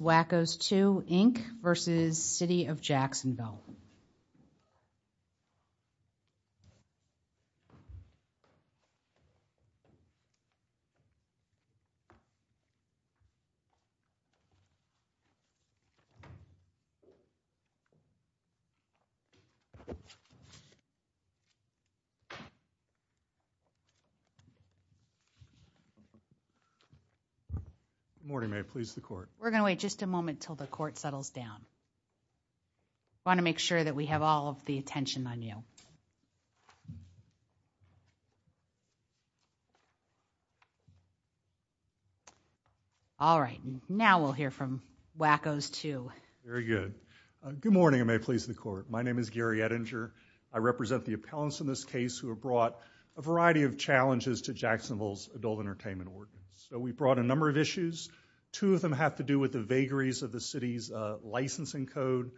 Wacko's Too, Inc. v. City of Jacksonville Good morning, may it please the court. We're going to wait just a moment until the court settles down. I want to make sure that we have all of the attention on you. All right, now we'll hear from WACOs 2. Very good. Good morning, may it please the court. My name is Gary Ettinger. I represent the appellants in this case who have brought a variety of challenges to Jacksonville's adult entertainment ordinance. So we brought a number of issues. Two of them have to do with the allegories of the city's licensing code.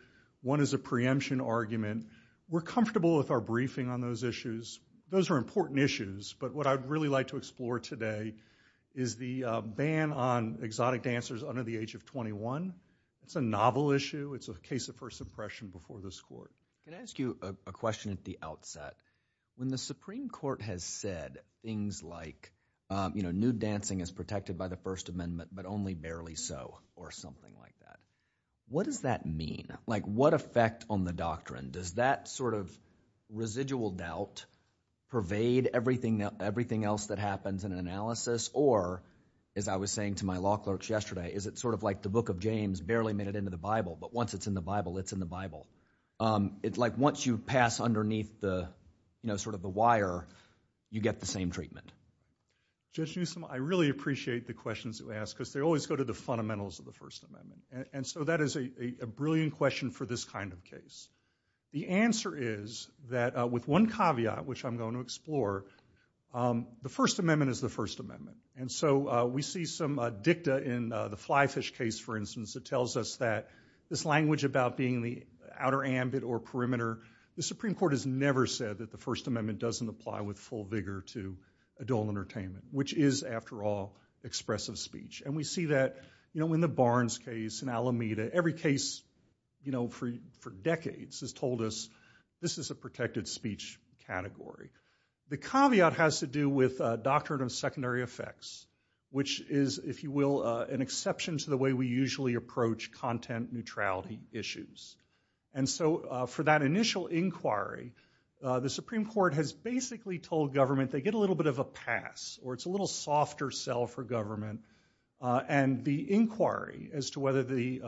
One is a preemption argument. We're comfortable with our briefing on those issues. Those are important issues, but what I'd really like to explore today is the ban on exotic dancers under the age of 21. It's a novel issue. It's a case of first impression before this court. Can I ask you a question at the outset? When the Supreme Court has said things like, you know, nude dancing is protected by the First Amendment, but only barely so, or something like that, what does that mean? Like what effect on the doctrine? Does that sort of residual doubt pervade everything else that happens in an analysis? Or, as I was saying to my law clerks yesterday, is it sort of like the book of James barely made it into the Bible, but once it's in the Bible, it's in the Bible. It's like once you pass underneath the, you know, sort of the wire, you get the same treatment. Judge Newsom, I really appreciate the questions you ask, because they always go to the fundamentals of the First Amendment, and so that is a brilliant question for this kind of case. The answer is that, with one caveat, which I'm going to explore, the First Amendment is the First Amendment, and so we see some dicta in the fly fish case, for instance, that tells us that this language about being the outer ambit or perimeter, the Supreme Court has never said that the First Amendment doesn't apply with full vigor to adult entertainment, which is, after all, expressive speech, and we see that, you know, in the Barnes case, in Alameda, every case, you know, for decades has told us this is a protected speech category. The caveat has to do with doctrine of secondary effects, which is, if you will, an exception to the way we usually approach content neutrality issues, and so for that initial inquiry, the Supreme Court has basically told government they get a little bit of a pass, or it's a little softer sell for government, and the inquiry as to whether the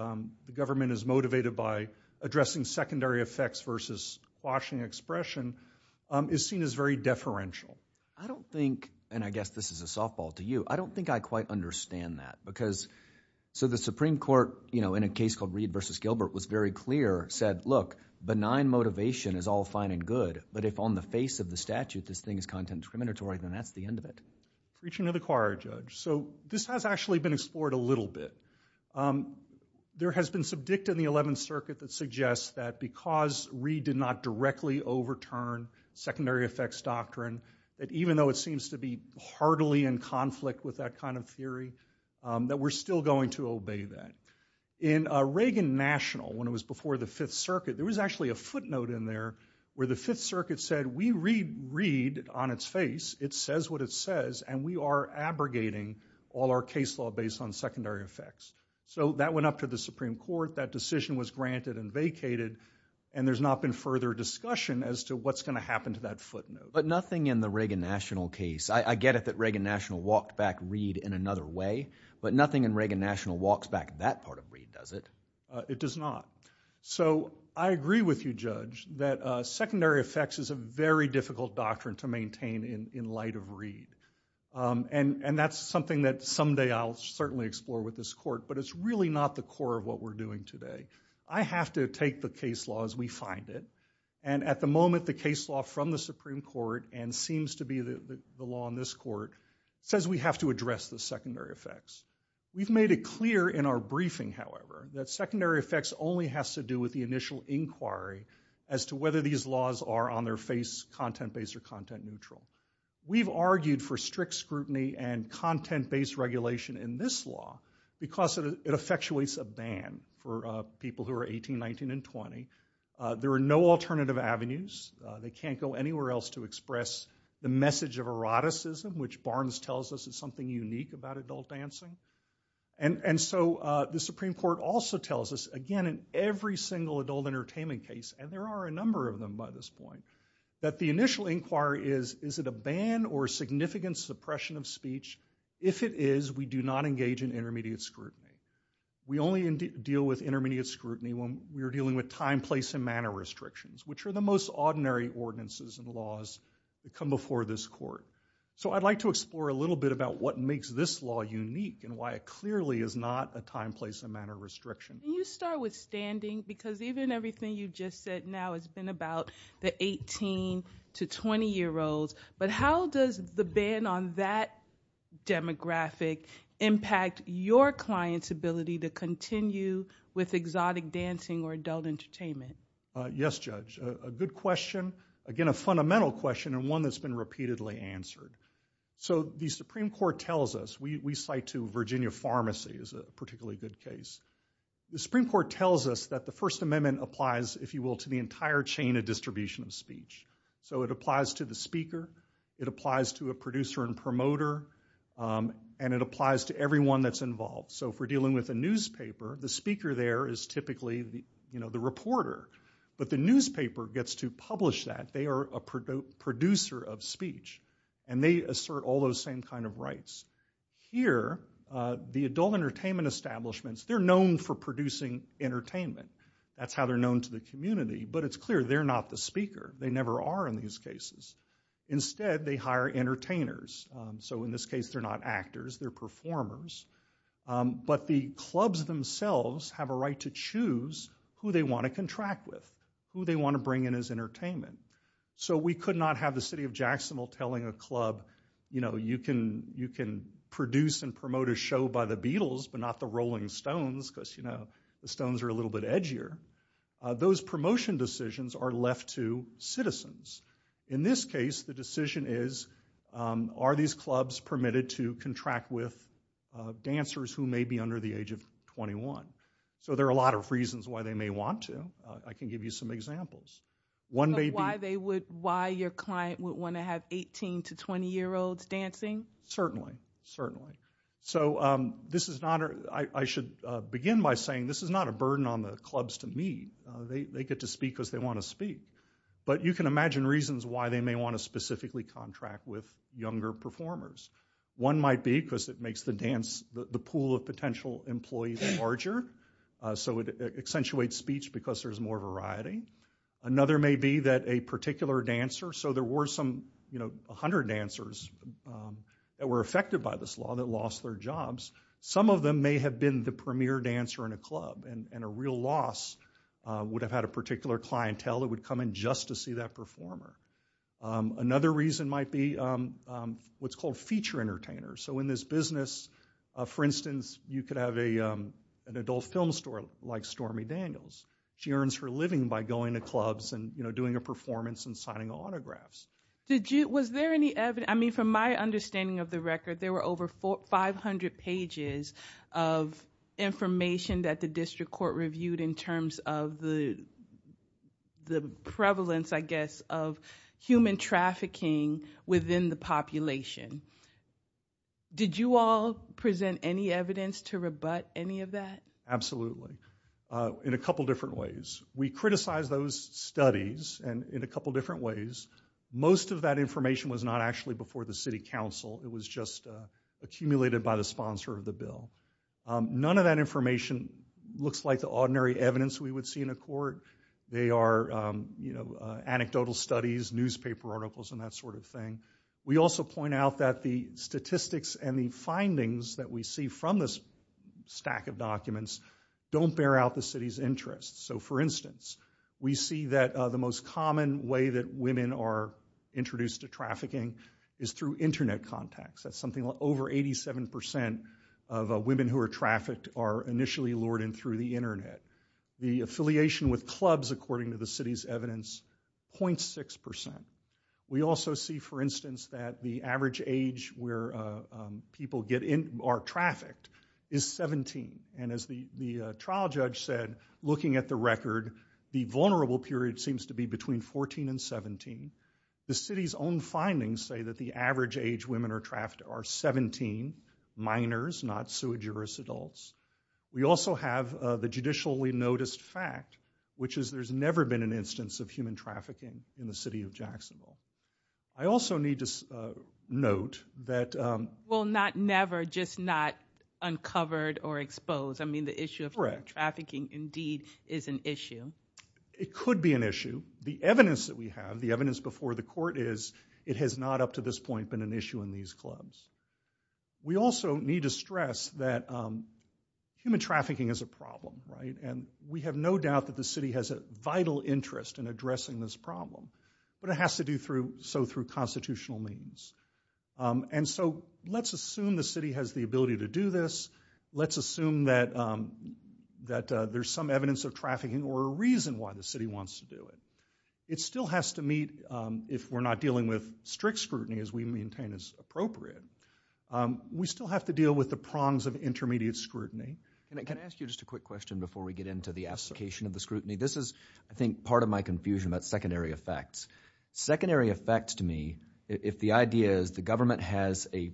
government is motivated by addressing secondary effects versus quashing expression is seen as very deferential. I don't think, and I guess this is a softball to you, I don't think I quite understand that, because, so the Supreme Court, you know, in a case called Reed versus Gilbert was very clear, said, look, benign motivation is all fine and good, but if on the face of the statute this thing is content discriminatory, then that's the end of it. Reaching to the choir, Judge, so this has actually been explored a little bit. There has been some dictum in the Eleventh Circuit that suggests that because Reed did not directly overturn secondary effects doctrine, that even though it seems to be heartily in conflict with that kind of theory, that we're still going to obey that. In Reagan National, when it was before the Fifth Circuit, there was actually a footnote in there where the Fifth Circuit said, we read Reed on its face, it says what it says, and we are abrogating all our case law based on secondary effects. So that went up to the Supreme Court, that decision was granted and vacated, and there's not been further discussion as to what's going to happen to that footnote. But nothing in the Reagan National case, I get it that Reagan National walked back Reed in another way, but nothing in Reagan National walks back that part of Reed, does it? It does not. So I agree with you, Judge, that secondary effects is a very difficult doctrine to maintain in light of Reed, and that's something that someday I'll certainly explore with this court, but it's really not the core of what we're doing today. I have to take the case law as we find it, and at the moment the case law from the Supreme Court, and seems to be the law in this court, says we have to address the secondary effects. It's very clear in our briefing, however, that secondary effects only has to do with the initial inquiry as to whether these laws are on their face, content-based or content-neutral. We've argued for strict scrutiny and content-based regulation in this law because it effectuates a ban for people who are 18, 19, and 20. There are no alternative avenues, they can't go anywhere else to express the message of eroticism, which Barnes tells us is something unique about adult dancing, and so the Supreme Court also tells us, again in every single adult entertainment case, and there are a number of them by this point, that the initial inquiry is is it a ban or significant suppression of speech? If it is, we do not engage in intermediate scrutiny. We only deal with intermediate scrutiny when we're dealing with time, place, and manner restrictions, which are the most ordinary ordinances and laws that come before this court. So I'd like to explore a little bit about what makes this law unique and why it clearly is not a time, place, and manner restriction. Can you start with standing? Because even everything you just said now has been about the 18 to 20 year olds, but how does the ban on that demographic impact your client's ability to continue with exotic dancing or adult entertainment? Yes, Judge, a good question. Again, a fundamental question and one that's been repeatedly answered. So the Supreme Court tells us, we cite to Virginia Pharmacy as a particularly good case, the Supreme Court tells us that the First Amendment applies, if you will, to the entire chain of distribution of speech. So it applies to the speaker, it applies to a producer and promoter, and it applies to everyone that's involved. So if we're dealing with a newspaper, the speaker there is typically, you know, the reporter, but the producer of speech, and they assert all those same kind of rights. Here, the adult entertainment establishments, they're known for producing entertainment. That's how they're known to the community, but it's clear they're not the speaker. They never are in these cases. Instead, they hire entertainers. So in this case, they're not actors, they're performers. But the clubs themselves have a right to choose who they want to contract with, who they want to bring in as entertainment. So we could not have the city of Jacksonville telling a club, you know, you can produce and promote a show by the Beatles, but not the Rolling Stones, because, you know, the Stones are a little bit edgier. Those promotion decisions are left to citizens. In this case, the decision is, are these clubs permitted to contract with dancers who may be under the age of 21? So there are a lot of reasons why they may want to. I can give you some examples. One may be... Your client would want to have 18 to 20 year olds dancing? Certainly, certainly. So this is not... I should begin by saying this is not a burden on the clubs to me. They get to speak because they want to speak. But you can imagine reasons why they may want to specifically contract with younger performers. One might be because it makes the dance, the pool of potential employees larger, so it accentuates speech because there's more variety. Another may be that a particular dancer, so there were some, you know, 100 dancers that were affected by this law that lost their jobs. Some of them may have been the premier dancer in a club and a real loss would have had a particular clientele that would come in just to see that performer. Another reason might be what's called feature entertainers. So in this business, for instance, you could have an adult film store like Stormy Daniels. She earns her living by going to clubs and, you know, performance and signing autographs. Did you... was there any evidence... I mean, from my understanding of the record, there were over 500 pages of information that the district court reviewed in terms of the prevalence, I guess, of human trafficking within the population. Did you all present any evidence to rebut any of that? Absolutely. In a couple different ways. We criticized those studies, and in a couple different ways, most of that information was not actually before the City Council. It was just accumulated by the sponsor of the bill. None of that information looks like the ordinary evidence we would see in a court. They are, you know, anecdotal studies, newspaper articles, and that sort of thing. We also point out that the statistics and the findings that we see from this stack of documents don't bear out the city's interests. So, for example, we see that the most common way that women are introduced to trafficking is through internet contacts. That's something like over 87% of women who are trafficked are initially lured in through the internet. The affiliation with clubs, according to the city's evidence, 0.6%. We also see, for instance, that the average age where people get in... are trafficked is 17, and as the trial judge said, looking at the record, the vulnerable period seems to be between 14 and 17. The city's own findings say that the average age women are trafficked are 17, minors, not sui geris adults. We also have the judicially noticed fact, which is there's never been an instance of human trafficking in the city of Jacksonville. I also need to note that... Well, not never, just not uncovered or that human trafficking indeed is an issue. It could be an issue. The evidence that we have, the evidence before the court, is it has not up to this point been an issue in these clubs. We also need to stress that human trafficking is a problem, right? And we have no doubt that the city has a vital interest in addressing this problem, but it has to do so through constitutional means. And so, let's assume that there's some evidence of trafficking or a reason why the city wants to do it. It still has to meet, if we're not dealing with strict scrutiny as we maintain is appropriate, we still have to deal with the prongs of intermediate scrutiny. Can I ask you just a quick question before we get into the application of the scrutiny? This is, I think, part of my confusion about secondary effects. Secondary effects to me, if the idea is the government has a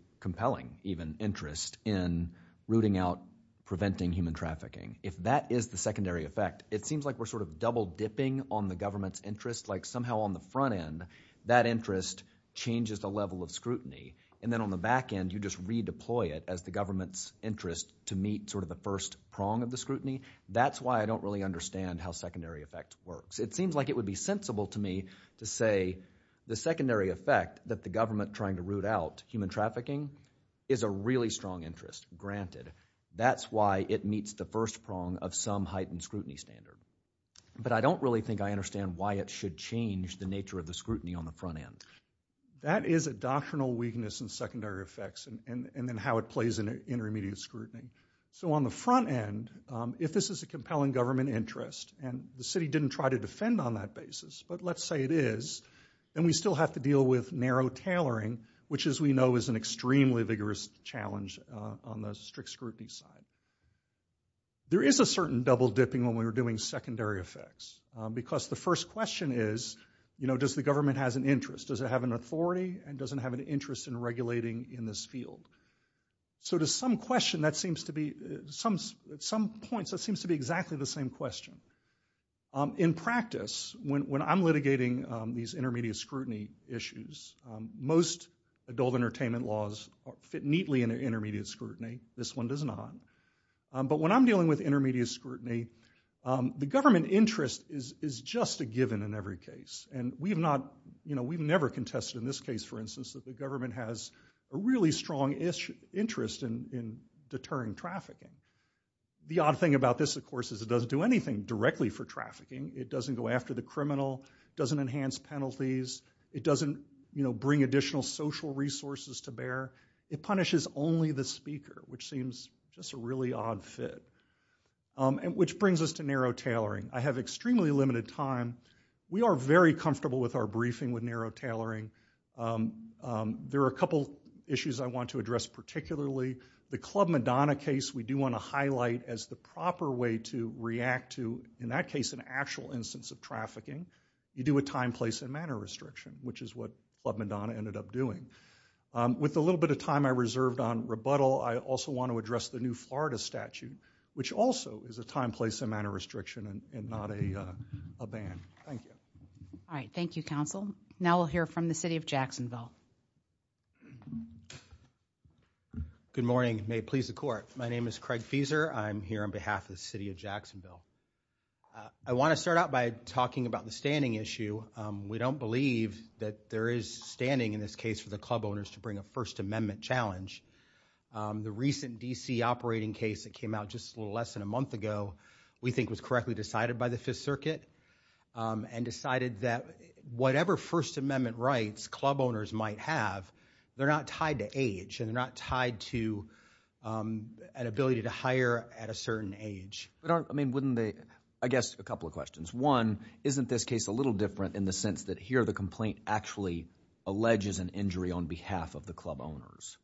interest in rooting out, preventing human trafficking, if that is the secondary effect, it seems like we're sort of double-dipping on the government's interest, like somehow on the front end that interest changes the level of scrutiny, and then on the back end you just redeploy it as the government's interest to meet sort of the first prong of the scrutiny. That's why I don't really understand how secondary effect works. It seems like it would be sensible to me to say the secondary effect that the government trying to root out human trafficking is a really strong interest, granted. That's why it meets the first prong of some heightened scrutiny standard. But I don't really think I understand why it should change the nature of the scrutiny on the front end. That is a doctrinal weakness in secondary effects and then how it plays in intermediate scrutiny. So on the front end, if this is a compelling government interest and the city didn't try to defend on that basis, but let's say it is, then we still have to deal with narrow tailoring, which as we know is an extremely vigorous challenge on the strict scrutiny side. There is a certain double-dipping when we were doing secondary effects, because the first question is, you know, does the government has an interest? Does it have an authority and doesn't have an interest in regulating in this field? So to some question that seems to be, at some points that seems to be exactly the same question. In practice, when I'm litigating these intermediate scrutiny issues, most adult entertainment laws fit neatly into intermediate scrutiny. This one does not. But when I'm dealing with intermediate scrutiny, the government interest is just a given in every case. And we have not, you know, we've never contested in this case, for instance, that the government has a really strong interest in deterring trafficking. The odd thing about this, of course, is it doesn't do anything directly for trafficking. It doesn't go after the criminal, doesn't enhance penalties, it doesn't, you know, bring additional social resources to bear. It punishes only the speaker, which seems just a really odd fit. And which brings us to narrow tailoring. I have extremely limited time. We are very comfortable with our briefing with narrow tailoring. There are a couple issues I want to address particularly. The Club Madonna case, we do want to highlight as the proper way to react to, in that case, an actual instance of trafficking. You do a time, place and manner restriction, which is what Club Madonna ended up doing. With a little bit of time I reserved on rebuttal, I also want to address the new Florida statute, which also is a time, place and manner restriction and not a ban. Thank you. All right. Thank you, counsel. Now we'll hear from the city of Jacksonville. Good morning. May it please the court. My name is Craig Feeser. I'm here on behalf of the city of Jacksonville. I want to start out by talking about the standing issue. We don't believe that there is standing in this case for the club owners to bring a First Amendment challenge. The recent DC operating case that came out just a little less than a month ago, we think was correctly decided by the Fifth Circuit and decided that whatever First Amendment rights club owners might have, they're not tied to age and they're not tied to an ability to hire at a certain age. I mean, wouldn't they? I guess a couple of questions. One, isn't this case a little different in the sense that here the complaint actually alleges an injury on behalf of the club owners?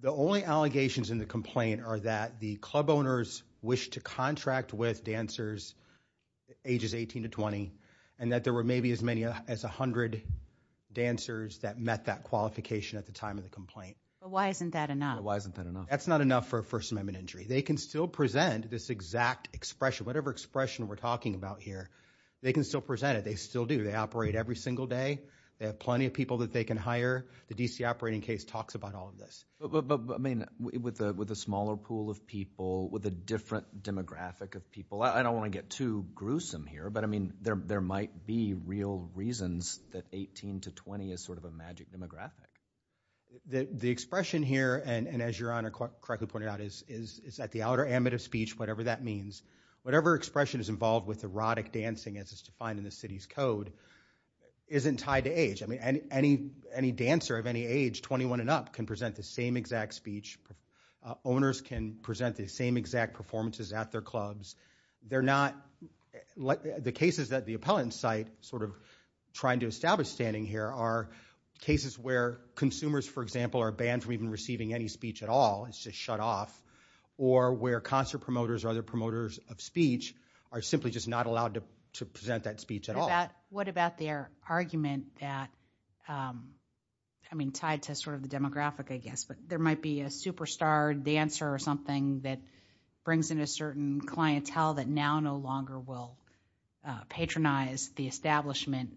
The only allegations in the complaint are that the club owners wish to contract with dancers ages 18 to 20 and that there were maybe as many as 100 dancers that met that qualification at the time of the complaint. Why isn't that enough? Why isn't that enough? That's not enough for a First Amendment injury. They can still present this exact expression, whatever expression we're talking about here, they can still present it. They still do. They operate every single day. They have plenty of people that they can hire. The DC operating case talks about all of this. With a smaller pool of people, with a different demographic of people, I don't want to get too gruesome here, but I mean, there might be real reasons that they have a different demographic. The expression here, and as your Honor correctly pointed out, is that the outer ambit of speech, whatever that means, whatever expression is involved with erotic dancing as is defined in the city's code, isn't tied to age. I mean, any dancer of any age, 21 and up, can present the same exact speech. Owners can present the same exact performances at their clubs. They're not, the cases that the appellant cite, sort of trying to establish standing here, are cases where consumers, for example, are banned from even receiving any speech at all. It's just shut off. Or where concert promoters or other promoters of speech are simply just not allowed to present that speech at all. What about their argument that, I mean, tied to sort of the demographic, I guess, but there might be a superstar dancer or something that brings in a recognize the establishment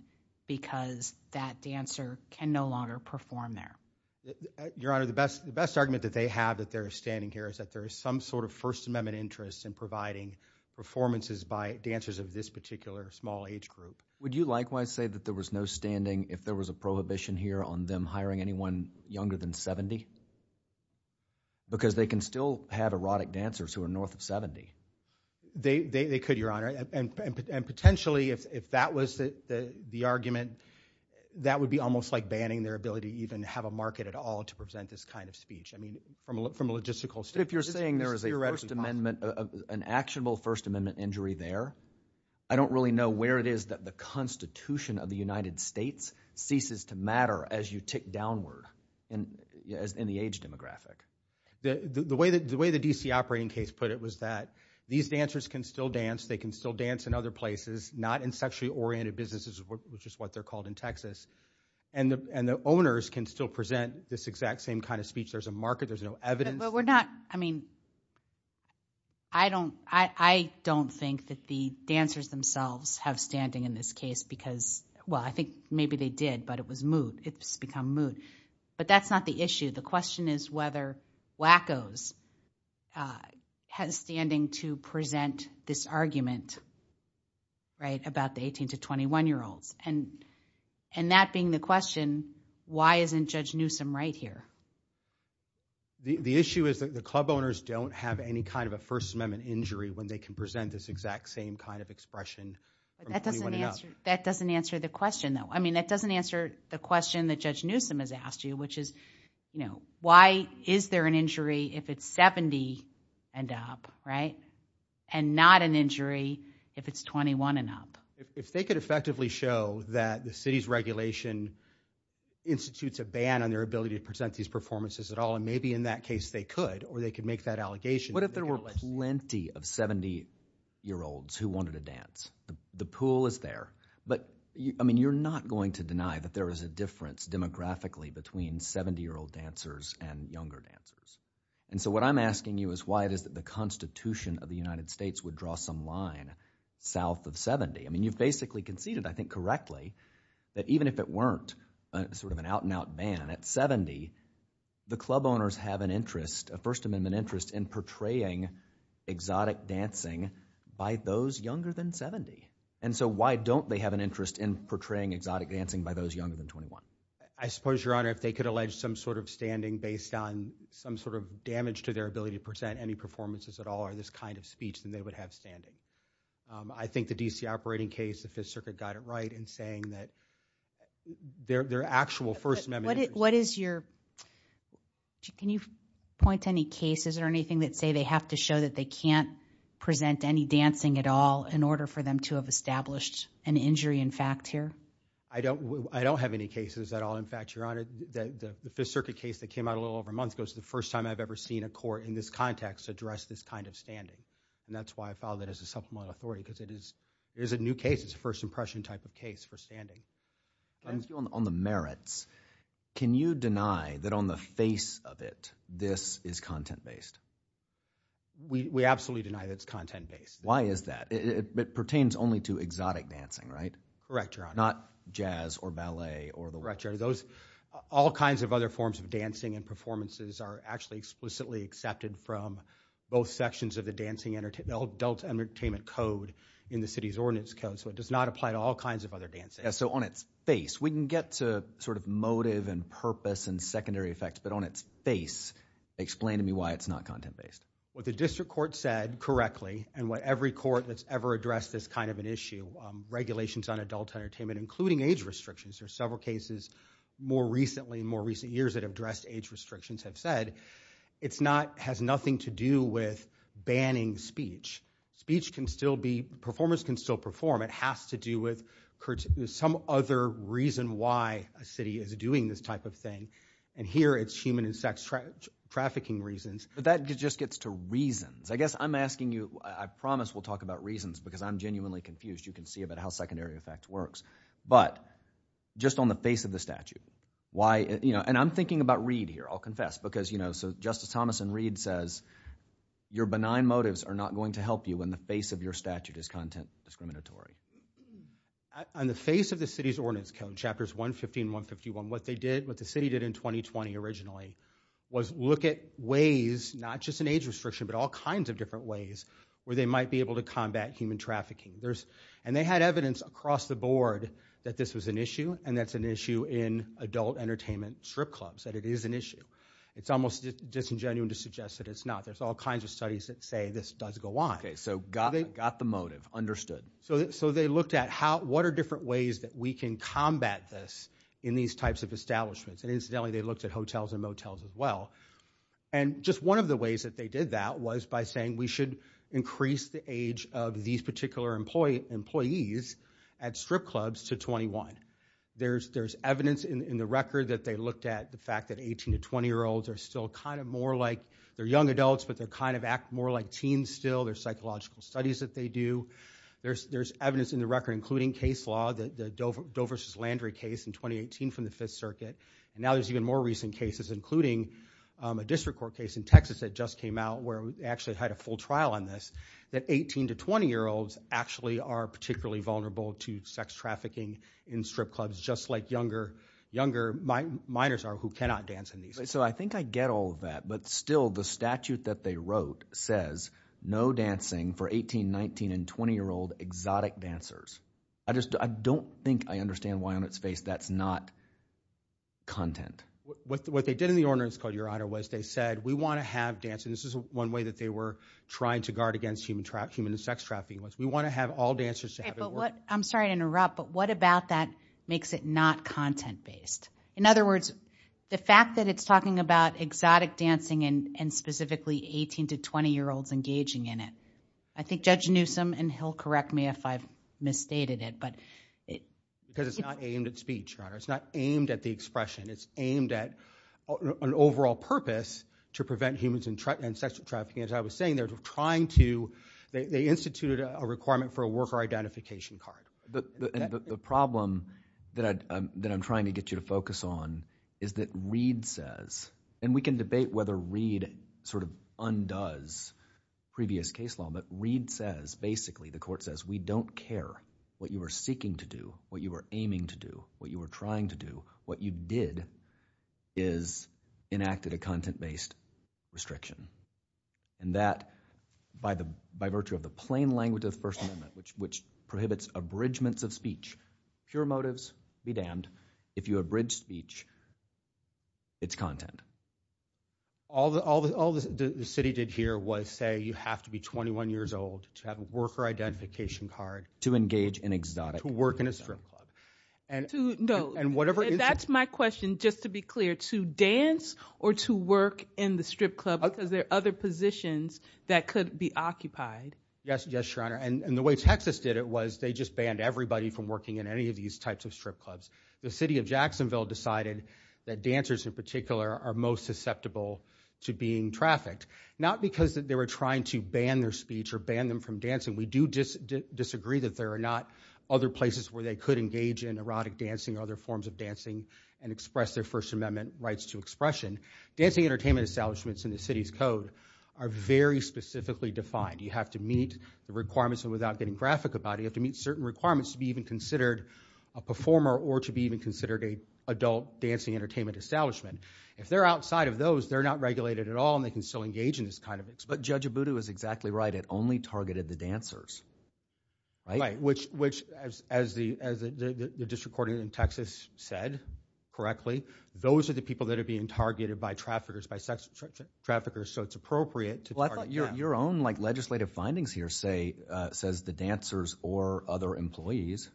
because that dancer can no longer perform there. Your Honor, the best argument that they have that they're standing here is that there is some sort of First Amendment interest in providing performances by dancers of this particular small age group. Would you likewise say that there was no standing if there was a prohibition here on them hiring anyone younger than 70? Because they can still have erotic dancers who are north of 70. They could, Your Honor. And potentially, if that was the argument, that would be almost like banning their ability to even have a market at all to present this kind of speech. I mean, from a logistical standpoint. But if you're saying there is a First Amendment, an actionable First Amendment injury there, I don't really know where it is that the Constitution of the United States ceases to matter as you tick downward in the age demographic. The way the D.C. operating case put it was that these dancers can still dance. They can still dance in other places, not in sexually oriented businesses, which is what they're called in Texas. And the owners can still present this exact same kind of speech. There's a market. There's no evidence. But we're not. I mean, I don't I don't think that the dancers themselves have standing in this case because, well, I think maybe they did, but it was moot. It's become moot. But that's not the issue. The question is whether WACOs has standing to present this argument. Right, about the 18 to 21 year olds and and that being the question, why isn't Judge Newsom right here? The issue is that the club owners don't have any kind of a First Amendment injury when they can present this exact same kind of expression. That doesn't answer that doesn't answer the question, though. I mean, that doesn't answer the question that Judge Newsom has asked you, which is, you know, why is there an injury if it's 70 and up? Right. And not an injury if it's 21 and up. If they could effectively show that the city's regulation institutes a ban on their ability to present these performances at all, and maybe in that case they could or they could make that allegation. What if there were plenty of 70 year olds who wanted to dance? The pool is there. But I mean, you're not going to deny that there is a difference demographically between 70 year old dancers and younger dancers. And so what I'm asking you is why it is that the Constitution of the United States would draw some line south of 70. I mean, you've basically conceded, I think correctly, that even if it weren't sort of an out and out ban at 70, the club owners have an interest, a First Amendment interest in portraying exotic dancing by those younger than 70. And so why don't they have an interest in portraying exotic dancing by those younger than 21? I suppose, Your Honor, if they could allege some sort of standing based on some sort of damage to their ability to present any performances at all or this kind of speech, then they would have standing. I think the D.C. operating case, the Fifth Circuit got it right in saying that their actual First Amendment. What is your. Can you point to any cases or anything that say they have to show that they can't present any dancing at all in order for them to have established an injury in fact here? I don't I don't have any cases at all. In fact, Your Honor, that the Fifth Circuit case that came out a little over a month ago is the first time I've ever seen a court in this context address this kind of standing. And that's why I filed it as a subpoena authority, because it is there's a new case. It's a first impression type of case for standing on the merits. Can you deny that on the face of it, this is content based? We absolutely deny that it's content based. Why is that? It pertains only to exotic dancing, right? Correct. You're not jazz or ballet or the retro. Those all kinds of other forms of dancing and performances are actually explicitly accepted from both sections of the dancing and adult entertainment code in the city's ordinance code. So it does not apply to all kinds of other dances. So on its face, we can get to sort of motive and purpose and secondary effects. But on its face, explain to me why it's not content based. What the district court said correctly and what every court that's ever addressed this kind of an issue, regulations on adult entertainment, including age restrictions. There are several cases more recently, more recent years that have addressed age restrictions have said it's not has nothing to do with banning speech. Speech can still be performers can still perform. It has to do with some other reason why a city is doing this type of thing. And here it's human and sex trafficking reasons. But that just gets to reasons. I guess I'm asking you, I promise we'll talk about reasons because I'm genuinely confused. You can see about how secondary effect works, but just on the face of the statute, why? And I'm thinking about Reed here. I'll confess because, you know, so Justice Thomas and Reed says your benign motives are not going to help you in the face of your statute is content discriminatory. On the face of the city's ordinance code, chapters 115, 151, what they did, what the city did in 2020 originally was look at ways, not just an age restriction, but all kinds of different ways where they might be able to combat human trafficking. There's and they had evidence across the board that this was an issue and that's an issue in adult entertainment strip clubs, that it is an issue. It's almost disingenuous to suggest that it's not. There's all kinds of studies that say this does go on. So got it. Got the motive understood. So so they looked at how what are different ways that we can combat this in these types of establishments. And incidentally, they looked at hotels and motels as well. And just one of the ways that they did that was by saying we should increase the age of these particular employee employees at strip clubs to 21. There's there's evidence in the record that they looked at the fact that 18 to 20 year olds are still kind of more like they're young adults, but they're kind of act more like teens. Still, there's psychological studies that they do. There's there's evidence in the record, including case law, the Dover versus Landry case in 2018 from the Fifth Circuit. Now, there's even more recent cases, including a district court case in Texas that just came out where we actually had a full trial on this, that 18 to 20 year olds actually are particularly vulnerable to sex trafficking in strip clubs, just like younger, younger minors are who cannot dance. So I think I get all of that. But still, the statute that they wrote says no dancing for 18, 19 and 20 year old exotic dancers. I just I don't think I understand why on its face that's not. Content with what they did in the ordinance code, Your Honor, was they said we want to have dancing. This is one way that they were trying to guard against human trafficking and sex trafficking, which we want to have all dancers. I'm sorry to interrupt, but what about that makes it not content based? In other words, the fact that it's talking about exotic dancing and specifically 18 to 20 year olds engaging in it, I think Judge Newsome and he'll correct me if I've misstated it, but it because it's not aimed at speech. It's not aimed at the expression. It's aimed at an overall purpose to prevent humans and sexual trafficking. As I was saying, they're trying to they instituted a requirement for a worker identification card. The problem that I'm trying to get you to focus on is that Reed says and we can debate whether Reed sort of undoes previous case law, but Reed says basically the court says we don't care what you are seeking to do, what you are aiming to do, what you are trying to do, what you did is enacted a content based restriction. And that by the by virtue of the plain language of the First Amendment, which which prohibits abridgements of speech, pure motives be damned. If you abridge speech, it's content. All the all the all the city did here was say you have to be 21 years old to have a worker identification card to engage in exotic work in a strip club. And to know and whatever. That's my question. Just to be clear to dance or to work in the strip club because there are other positions that could be occupied. Yes. Yes, your honor. And the way Texas did it was they just banned everybody from working in any of these types of strip clubs. The city of Jacksonville decided that dancers in particular are most susceptible to being trafficked, not because they were trying to ban their speech or ban them from dancing. We do disagree that there are not other places where they could engage in erotic dancing or other forms of dancing and express their First Amendment rights to expression. Dancing entertainment establishments in the city's code are very specifically defined. You have to meet the requirements and without getting graphic about it, you have to meet certain requirements to be even considered a performer or to be even considered a adult dancing entertainment establishment. If they're outside of those, they're not regulated at all. And they can still engage in this kind of. But Judge Abudu is exactly right. It only targeted the dancers. Right, which which as as the as the district court in Texas said correctly, those are the people that are being targeted by traffickers, by sex traffickers, so it's appropriate to let your own like legislative findings here say says the dancers or other employees.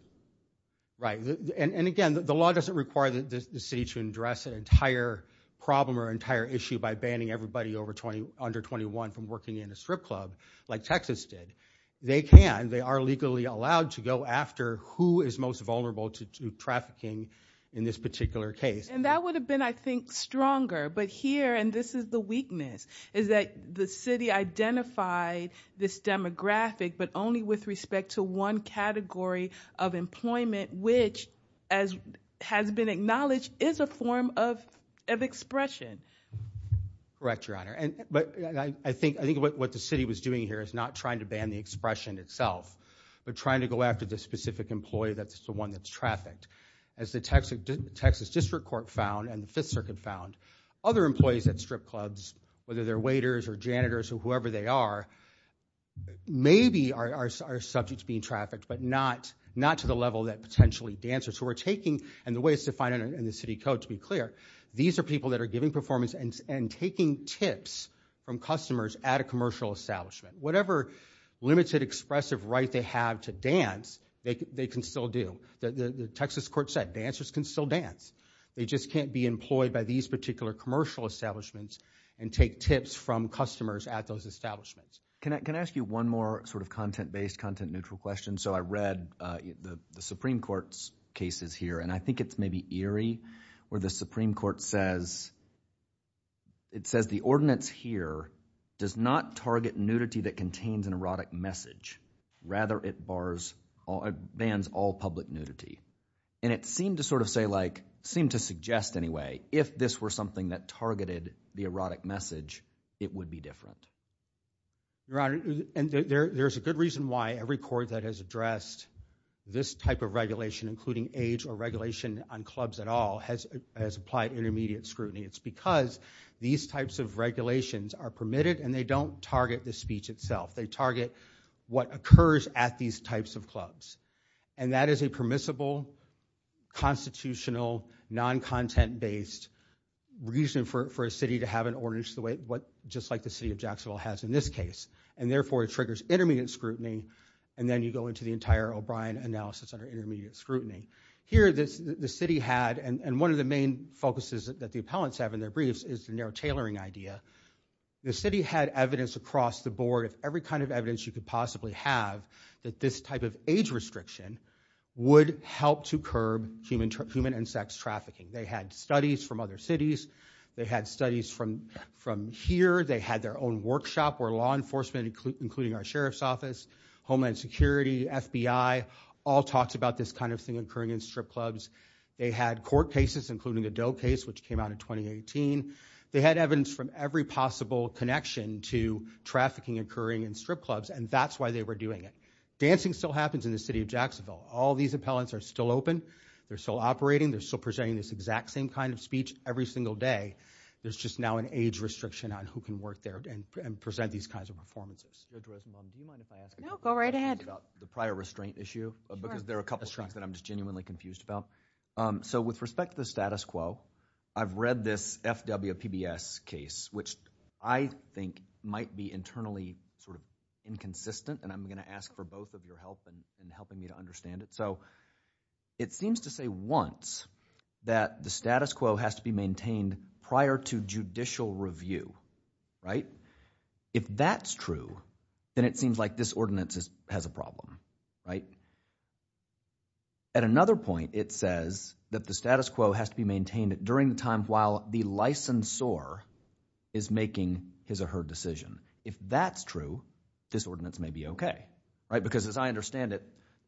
Right, and again, the law doesn't require the city to address an entire problem or entire issue by banning everybody over 20 under 21 from working in a strip club like Texas did. They can. They are legally allowed to go after who is most vulnerable to trafficking in this particular case. And that would have been, I think, stronger. But here and this is the weakness is that the city identified this demographic, but only with respect to one category of employment, which as has been acknowledged, is a form of of expression. Correct, Your Honor, and but I think I think what the city was doing here is not trying to ban the expression itself, but trying to go after the specific employee. That's the one that's trafficked as the Texas, Texas District Court found and the Fifth Circuit found other employees at strip clubs, whether they're waiters or janitors or whoever they are, maybe are subject to being trafficked, but not not to the level that potentially dancers who are taking and the ways to find it in the city code. To be clear, these are people that are giving performance and taking tips from customers at a commercial establishment, whatever limited expressive right they have to dance. They can still do the Texas court said dancers can still dance. They just can't be employed by these particular commercial establishments and take tips from customers at those establishments. Can I can I ask you one more sort of content based content neutral question? So I read the Supreme Court's cases here and I think it's maybe eerie where the Supreme Court says it says the ordinance here does not target nudity that contains an erotic message. Rather, it bars or bans all public nudity and it seemed to sort of say like seem to suggest anyway, if this were something that targeted the erotic message, it would be different. Your Honor, and there's a good reason why every court that has addressed this type of regulation, including age or regulation on clubs at all, has has applied intermediate scrutiny. It's because these types of regulations are permitted and they don't target the speech itself. They target what occurs at these types of clubs. And that is a permissible, constitutional, non-content based reason for a city to have an ordinance the way what just like the city of Jacksonville has in this case. And therefore, it triggers intermediate scrutiny. And then you go into the entire O'Brien analysis under intermediate scrutiny. Here this the city had and one of the main focuses that the appellants have in their briefs is the narrow tailoring idea. The city had evidence across the board of every kind of evidence you could possibly have that this type of age restriction would help to curb human and sex trafficking. They had studies from other cities. They had studies from here. They had their own workshop where law enforcement, including our sheriff's office, Homeland Security, FBI, all talked about this kind of thing occurring in strip clubs. They had court cases, including the Doe case, which came out in 2018. They had evidence from every possible connection to trafficking occurring in strip clubs. And that's why they were doing it. Dancing still happens in the city of Jacksonville. All these appellants are still open. They're still operating. They're still presenting this exact same kind of speech every single day. There's just now an age restriction on who can work there and present these kinds of performances. Do you mind if I ask a question? No. Go right ahead. About the prior restraint issue. Because there are a couple of things that I'm just genuinely confused about. So with respect to the status quo, I've read this FWPBS case, which I think might be internally sort of inconsistent. And I'm going to ask for both of your help in helping me to understand it. So it seems to say once that the status quo has to be maintained prior to judicial review. If that's true, then it seems like this ordinance has a problem. At another point, it says that the status quo has to be maintained during the time while the licensor is making his or her decision. If that's true, this ordinance may be okay. Because as I understand it,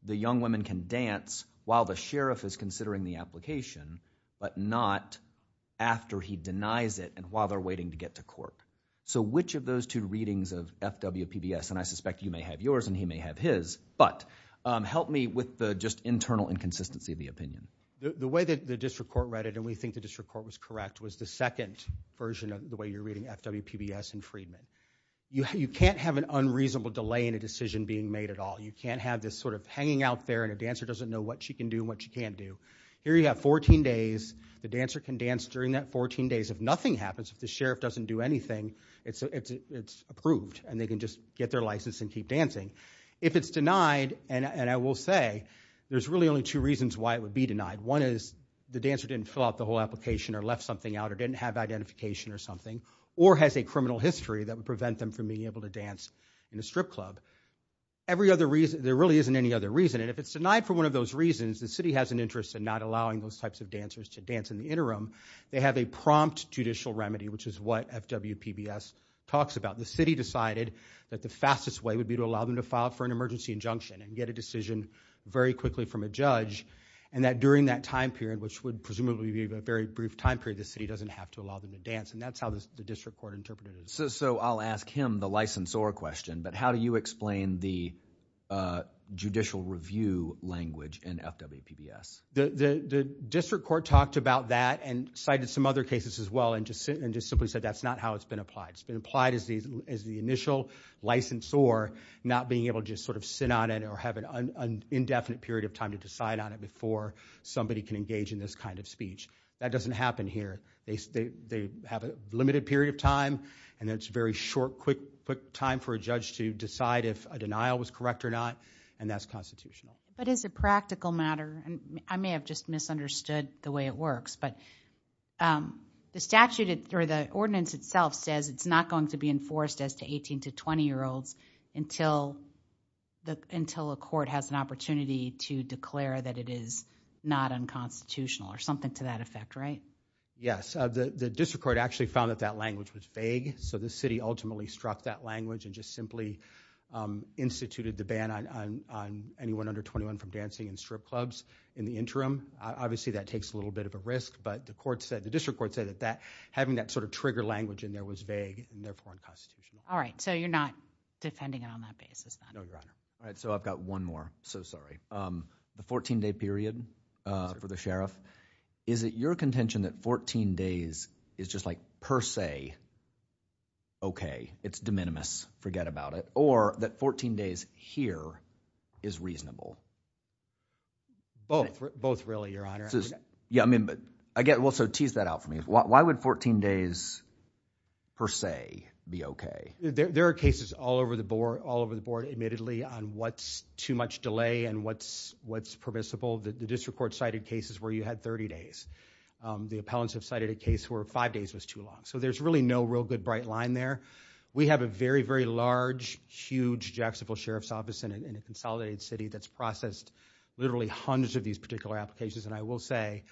the young women can dance while the sheriff is considering the application, but not after he denies it and while they're waiting to get to court. So which of those two readings of FWPBS, and I suspect you may have yours and he may have his, but help me with the just internal inconsistency of the opinion. The way that the district court read it, and we think the district court was correct, was the second version of the way you're reading FWPBS and Friedman. You can't have an unreasonable delay in a decision being made at all. You can't have this sort of hanging out there and a dancer doesn't know what she can do and what she can't do. Here you have 14 days, the dancer can dance during that 14 days. If nothing happens, if the sheriff doesn't do anything, it's approved and they can just get their license and keep dancing. If it's denied, and I will say, there's really only two reasons why it would be denied. One is the dancer didn't fill out the whole application or left something out or didn't have identification or something, or has a criminal history that would prevent them from being able to dance in a strip club. Every other reason, there really isn't any other reason, and if it's denied for one of those reasons, the city has an interest in not allowing those types of dancers to dance in the interim. They have a prompt judicial remedy, which is what FWPBS talks about. The city decided that the fastest way would be to allow them to file for an emergency injunction and get a decision very quickly from a judge, and that during that time period, which would presumably be a very brief time period, the city doesn't have to allow them to dance, and that's how the district court interpreted it. So I'll ask him the licensor question, but how do you explain the judicial review language in FWPBS? The district court talked about that and cited some other cases as well and just simply said that's not how it's been applied. It's been applied as the initial licensor, not being able to just sit on it or have an engage in this kind of speech. That doesn't happen here. They have a limited period of time, and it's a very short, quick time for a judge to decide if a denial was correct or not, and that's constitutional. But as a practical matter, I may have just misunderstood the way it works, but the statute or the ordinance itself says it's not going to be enforced as to 18 to 20-year-olds until until a court has an opportunity to declare that it is not unconstitutional or something to that effect, right? Yes. The district court actually found that that language was vague, so the city ultimately struck that language and just simply instituted the ban on anyone under 21 from dancing in strip clubs in the interim. Obviously that takes a little bit of a risk, but the district court said that having that sort of trigger language in there was vague and therefore unconstitutional. All right. So you're not defending it on that basis then? No, Your Honor. All right. So I've got one more. So sorry. The 14-day period for the sheriff, is it your contention that 14 days is just like per se okay? It's de minimis. Forget about it. Or that 14 days here is reasonable? Both. Both really, Your Honor. Yeah. I mean, but I guess, well, so tease that out for me. Why would 14 days per se be okay? There are cases all over the board, admittedly, on what's too much delay and what's permissible. The district court cited cases where you had 30 days. The appellants have cited a case where five days was too long. So there's really no real good bright line there. We have a very, very large, huge Jacksonville Sheriff's Office in a consolidated city that's processed literally hundreds of these particular applications, and I will say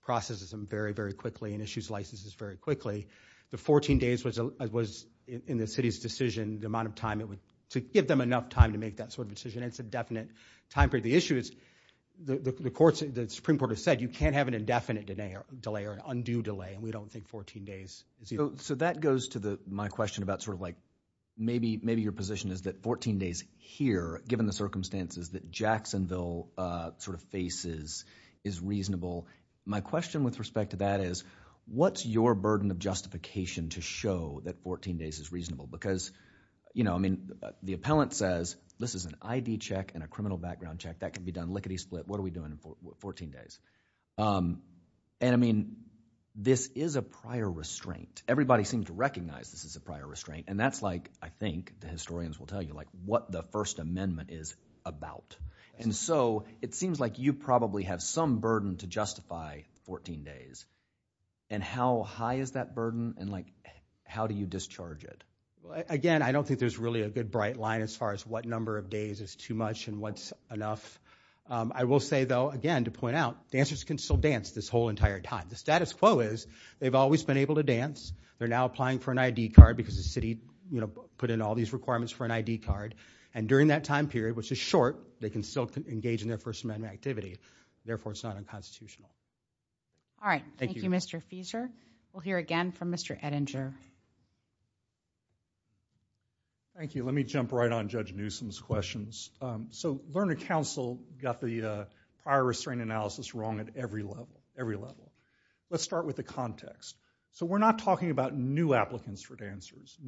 processes them very, very quickly and issues licenses very quickly. The 14 days was in the city's decision, the amount of time it would, to give them enough time to make that sort of decision, it's a definite time period. The issue is, the Supreme Court has said you can't have an indefinite delay or an undue delay and we don't think 14 days is either. So that goes to my question about sort of like, maybe your position is that 14 days here, given the circumstances that Jacksonville sort of faces, is reasonable. My question with respect to that is, what's your burden of justification to show that 14 days is reasonable? Because, you know, I mean, the appellant says, this is an ID check and a criminal background check, that can be done lickety-split, what are we doing with 14 days? And I mean, this is a prior restraint. Everybody seems to recognize this is a prior restraint, and that's like, I think, the historians will tell you, like, what the First Amendment is about. And so, it seems like you probably have some burden to justify 14 days. And how high is that burden, and like, how do you discharge it? Again, I don't think there's really a good bright line as far as what number of days is too much and what's enough. I will say, though, again, to point out, dancers can still dance this whole entire time. The status quo is, they've always been able to dance, they're now applying for an ID card because the city, you know, put in all these requirements for an ID card, and during that time period, which is short, they can still engage in their First Amendment activity. Therefore, it's not unconstitutional. All right. Thank you, Mr. Fieser. We'll hear again from Mr. Ettinger. Thank you. Let me jump right on Judge Newsom's questions. So Lerner Counsel got the prior restraint analysis wrong at every level, every level. Let's start with the context. So we're not talking about new applicants for dancers.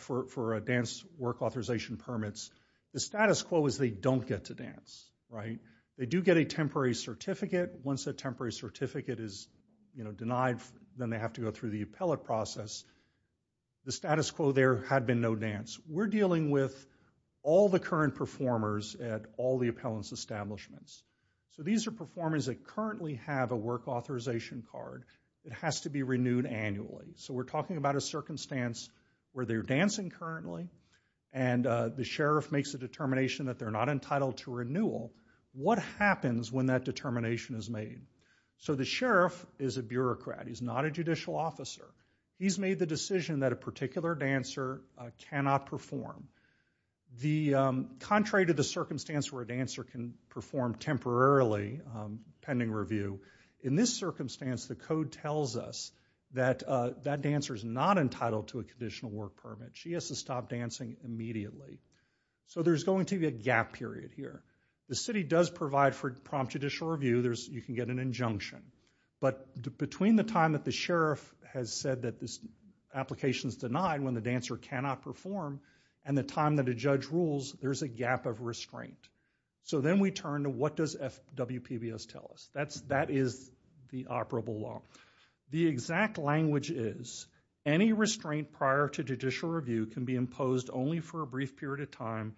For dance work authorization permits, the status quo is, they don't get to dance, right? They do get a temporary certificate. Once that temporary certificate is, you know, denied, then they have to go through the appellate process. The status quo there had been no dance. We're dealing with all the current performers at all the appellants' establishments. So these are performers that currently have a work authorization card. It has to be renewed annually. So we're talking about a circumstance where they're dancing currently, and the sheriff makes a determination that they're not entitled to renewal. What happens when that determination is made? So the sheriff is a bureaucrat. He's not a judicial officer. He's made the decision that a particular dancer cannot perform. The contrary to the circumstance where a dancer can perform temporarily pending review, in this circumstance, the code tells us that that dancer is not entitled to a conditional work permit. She has to stop dancing immediately. So there's going to be a gap period here. The city does provide for prompt judicial review. You can get an injunction. But between the time that the sheriff has said that this application is denied when the dancer cannot perform, and the time that a judge rules, there's a gap of restraint. So then we turn to what does WPBS tell us? That is the operable law. The exact language is, any restraint prior to judicial review can be imposed only for a brief period of time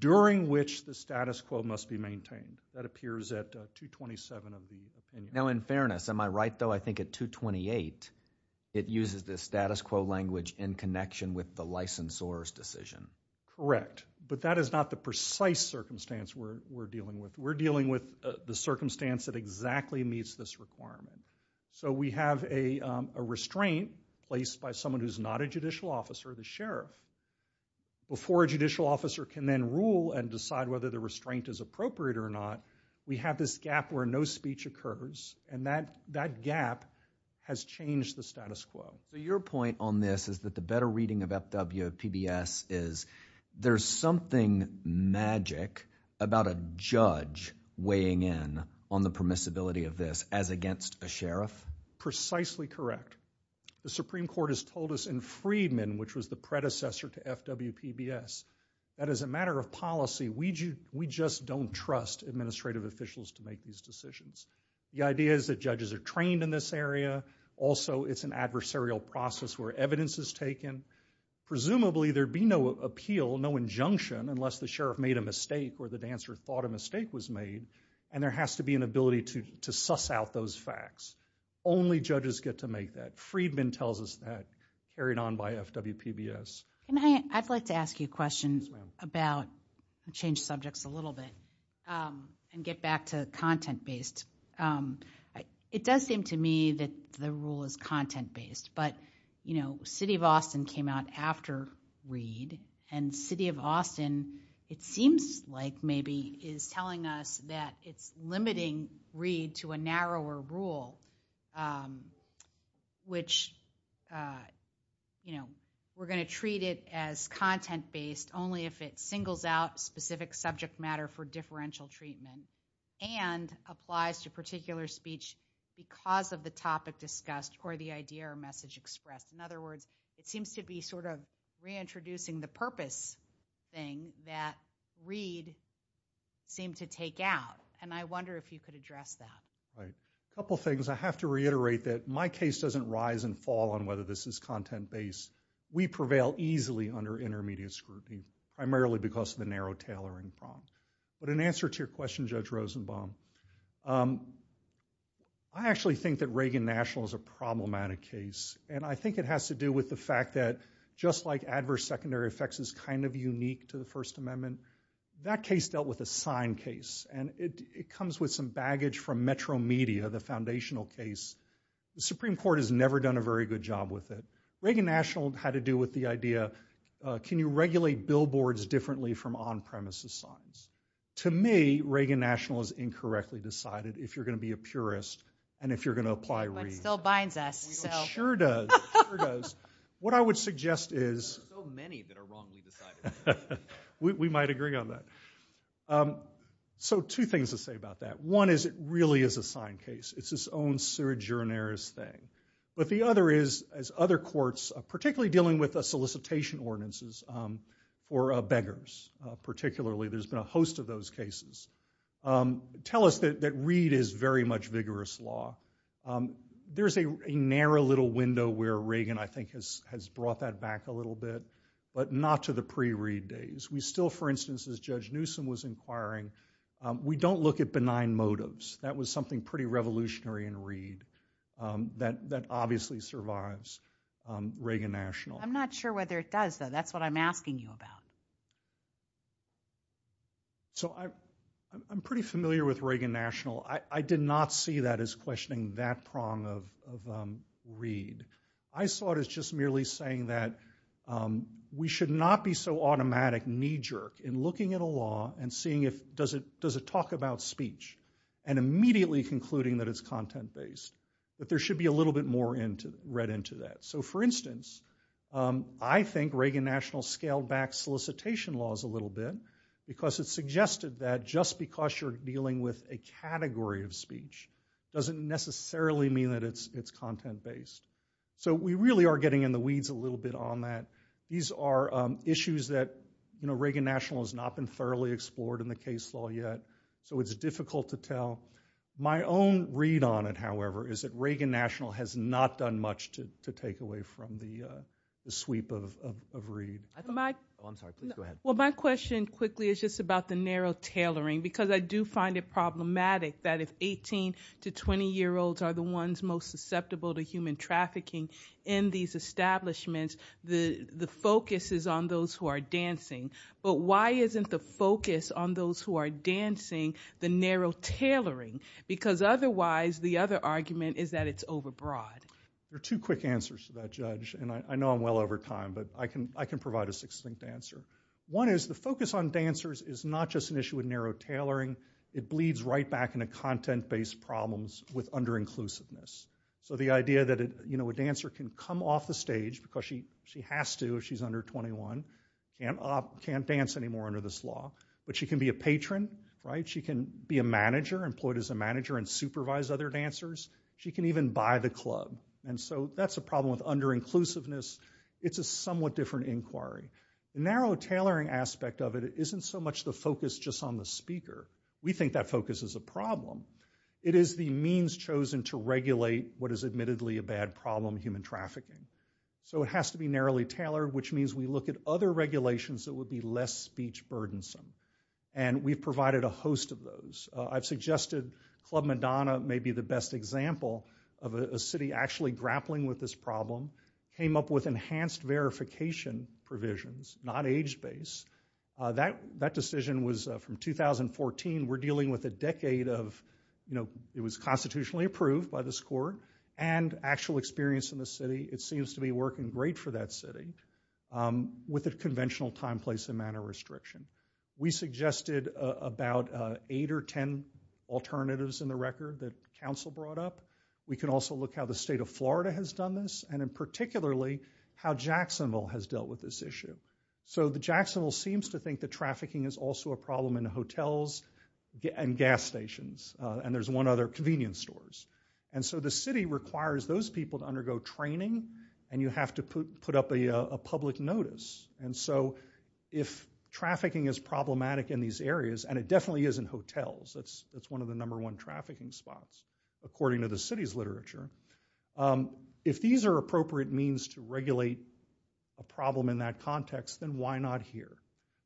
during which the status quo must be maintained. That appears at 227 of the opinion. Now in fairness, am I right though? I think at 228, it uses the status quo language in connection with the licensor's decision. Correct. But that is not the precise circumstance we're dealing with. We're dealing with the circumstance that exactly meets this requirement. So we have a restraint placed by someone who's not a judicial officer, the sheriff. Before a judicial officer can then rule and decide whether the restraint is appropriate or not, we have this gap where no speech occurs. And that gap has changed the status quo. Your point on this is that the better reading of FWPBS is there's something magic about a judge weighing in on the permissibility of this as against a sheriff? Precisely correct. The Supreme Court has told us in Freedman, which was the predecessor to FWPBS, that as a matter of policy, we just don't trust administrative officials to make these decisions. The idea is that judges are trained in this area. Also it's an adversarial process where evidence is taken. Presumably there'd be no appeal, no injunction, unless the sheriff made a mistake or the dancer thought a mistake was made, and there has to be an ability to suss out those facts. Only judges get to make that. Freedman tells us that, carried on by FWPBS. I'd like to ask you a question about, change subjects a little bit, and get back to content-based. It does seem to me that the rule is content-based, but you know, City of Austin came out after Freedman is telling us that it's limiting Reed to a narrower rule, which, you know, we're going to treat it as content-based only if it singles out specific subject matter for differential treatment, and applies to particular speech because of the topic discussed or the idea or message expressed. In other words, it seems to be sort of reintroducing the purpose thing that Reed seemed to take out, and I wonder if you could address that. A couple things. I have to reiterate that my case doesn't rise and fall on whether this is content-based. We prevail easily under intermediate scrutiny, primarily because of the narrow tailoring problem. But in answer to your question, Judge Rosenbaum, I actually think that Reagan National is a case that has to do with the fact that, just like adverse secondary effects is kind of unique to the First Amendment, that case dealt with a sign case, and it comes with some baggage from Metro Media, the foundational case. The Supreme Court has never done a very good job with it. Reagan National had to do with the idea, can you regulate billboards differently from on-premises signs? To me, Reagan National has incorrectly decided if you're going to be a purist and if you're going to apply Reed. It still binds us. It sure does. It sure does. What I would suggest is- There are so many that are wrongly decided. We might agree on that. So two things to say about that. One is it really is a sign case. It's its own sui generis thing. But the other is, as other courts, particularly dealing with solicitation ordinances or beggars particularly, there's been a host of those cases, tell us that Reed is very much vigorous law. There's a narrow little window where Reagan, I think, has brought that back a little bit, but not to the pre-Reed days. We still, for instance, as Judge Newsom was inquiring, we don't look at benign motives. That was something pretty revolutionary in Reed that obviously survives Reagan National. I'm not sure whether it does, though. That's what I'm asking you about. So I'm pretty familiar with Reagan National. I did not see that as questioning that prong of Reed. I saw it as just merely saying that we should not be so automatic knee jerk in looking at a law and seeing if does it talk about speech and immediately concluding that it's content based. But there should be a little bit more read into that. So for instance, I think Reagan National scaled back solicitation laws a little bit because it suggested that just because you're dealing with a category of speech doesn't necessarily mean that it's content based. So we really are getting in the weeds a little bit on that. These are issues that Reagan National has not been thoroughly explored in the case law yet, so it's difficult to tell. My own read on it, however, is that Reagan National has not done much to take away from the sweep of Reed. Well, my question quickly is just about the narrow tailoring because I do find it problematic that if 18 to 20 year olds are the ones most susceptible to human trafficking in these establishments, the focus is on those who are dancing. But why isn't the focus on those who are dancing the narrow tailoring? Because otherwise, the other argument is that it's over broad. There are two quick answers to that, Judge. I know I'm well over time, but I can provide a succinct answer. One is the focus on dancers is not just an issue with narrow tailoring. It bleeds right back into content based problems with under-inclusiveness. So the idea that a dancer can come off the stage because she has to if she's under 21 and can't dance anymore under this law, but she can be a patron, right? She can be a manager, employed as a manager and supervise other dancers. She can even buy the club. And so that's a problem with under-inclusiveness. It's a somewhat different inquiry. Narrow tailoring aspect of it isn't so much the focus just on the speaker. We think that focus is a problem. It is the means chosen to regulate what is admittedly a bad problem, human trafficking. So it has to be narrowly tailored, which means we look at other regulations that would be less speech burdensome. And we've provided a host of those. I've suggested Club Madonna may be the best example of a city actually grappling with this problem, came up with enhanced verification provisions, not age-based. That decision was from 2014. We're dealing with a decade of, you know, it was constitutionally approved by this court and actual experience in the city. It seems to be working great for that city with a conventional time, place and manner restriction. We suggested about eight or ten alternatives in the record that council brought up. We can also look how the state of Florida has done this and in particularly how Jacksonville has dealt with this issue. So the Jacksonville seems to think that trafficking is also a problem in hotels and gas stations. And there's one other, convenience stores. And so the city requires those people to undergo training and you have to put up a public notice. And so if trafficking is problematic in these areas, and it definitely is in hotels, it's one of the number one trafficking spots according to the city's literature. If these are appropriate means to regulate a problem in that context, then why not here?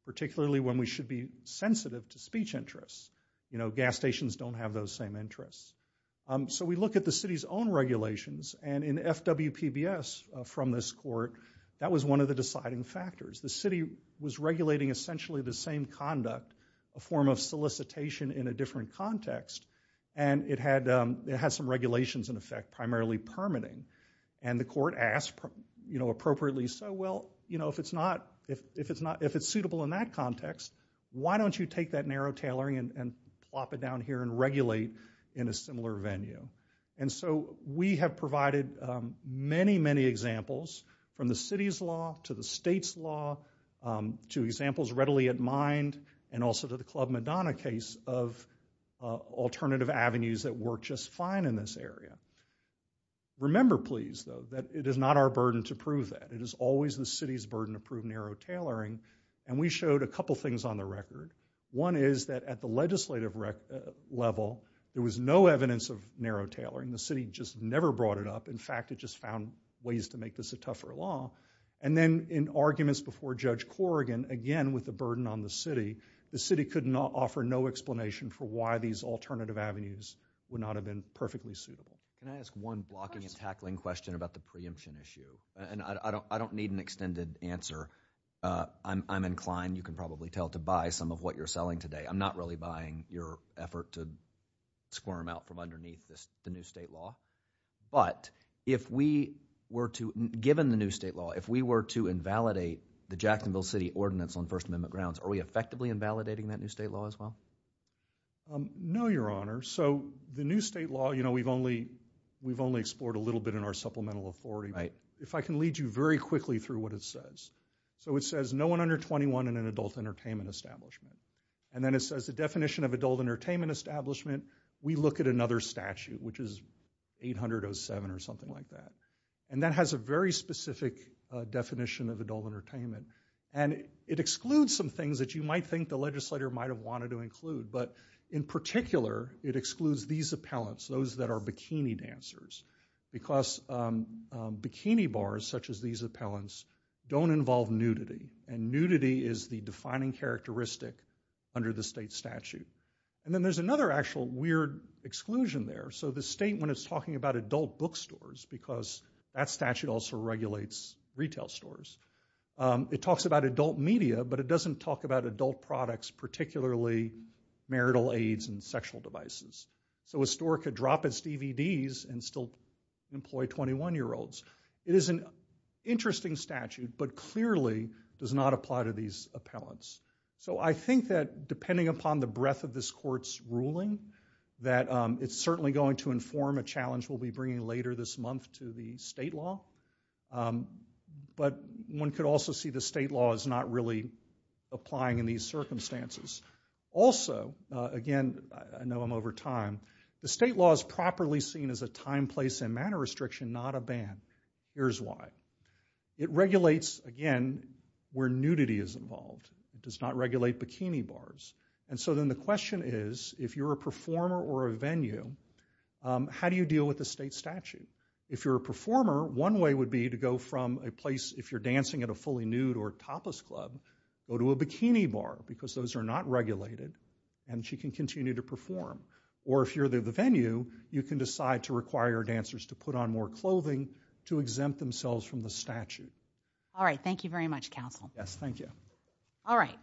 Particularly when we should be sensitive to speech interests. You know, gas stations don't have those same interests. So we look at the city's own regulations and in FWPBS from this court, that was one of the deciding factors. The city was regulating essentially the same conduct, a form of solicitation in a different context and it had some regulations in effect, primarily permitting. And the court asked, you know, appropriately so, well, you know, if it's not, if it's suitable in that context, why don't you take that narrow tailoring and plop it down here and regulate in a similar venue? And so we have provided many, many examples from the city's law to the state's law to examples readily at mind and also to the Club Madonna case of alternative avenues that work just fine in this area. Remember please, though, that it is not our burden to prove that. It is always the city's burden to prove narrow tailoring. And we showed a couple things on the record. One is that at the legislative level, there was no evidence of narrow tailoring. The city just never brought it up. In fact, it just found ways to make this a tougher law. And then in arguments before Judge Corrigan, again, with the burden on the city, the city could not offer no explanation for why these alternative avenues would not have been perfectly suitable. Can I ask one blocking and tackling question about the preemption issue? And I don't need an extended answer. I'm inclined, you can probably tell, to buy some of what you're selling today. I'm not really buying your effort to squirm out from underneath the new state law. But if we were to, given the new state law, if we were to invalidate the Jacksonville City Ordinance on First Amendment grounds, are we effectively invalidating that new state law as well? No, Your Honor. So the new state law, you know, we've only explored a little bit in our supplemental authority. If I can lead you very quickly through what it says. So it says no one under 21 in an adult entertainment establishment. And then it says the definition of adult entertainment establishment, we look at another statute, which is 807 or something like that. And that has a very specific definition of adult entertainment. And it excludes some things that you might think the legislature might have wanted to include. But in particular, it excludes these appellants, those that are bikini dancers. Because bikini bars, such as these appellants, don't involve nudity. And nudity is the defining characteristic under the state statute. And then there's another actual weird exclusion there. So the state, when it's talking about adult bookstores, because that statute also regulates retail stores, it talks about adult media. But it doesn't talk about adult products, particularly marital aids and sexual devices. So a store could drop its DVDs and still employ 21-year-olds. It is an interesting statute, but clearly does not apply to these appellants. So I think that depending upon the breadth of this court's ruling, that it's certainly going to inform a challenge we'll be bringing later this month to the state law. But one could also see the state law is not really applying in these circumstances. Also, again, I know I'm over time, the state law is properly seen as a time, place, and manner restriction, not a ban. Here's why. It regulates, again, where nudity is involved. It does not regulate bikini bars. And so then the question is, if you're a performer or a venue, how do you deal with the state statute? If you're a performer, one way would be to go from a place, if you're dancing at a fully not regulated, and she can continue to perform. Or if you're the venue, you can decide to require dancers to put on more clothing to exempt themselves from the statute. All right. Thank you very much, counsel. Yes. Thank you. All right.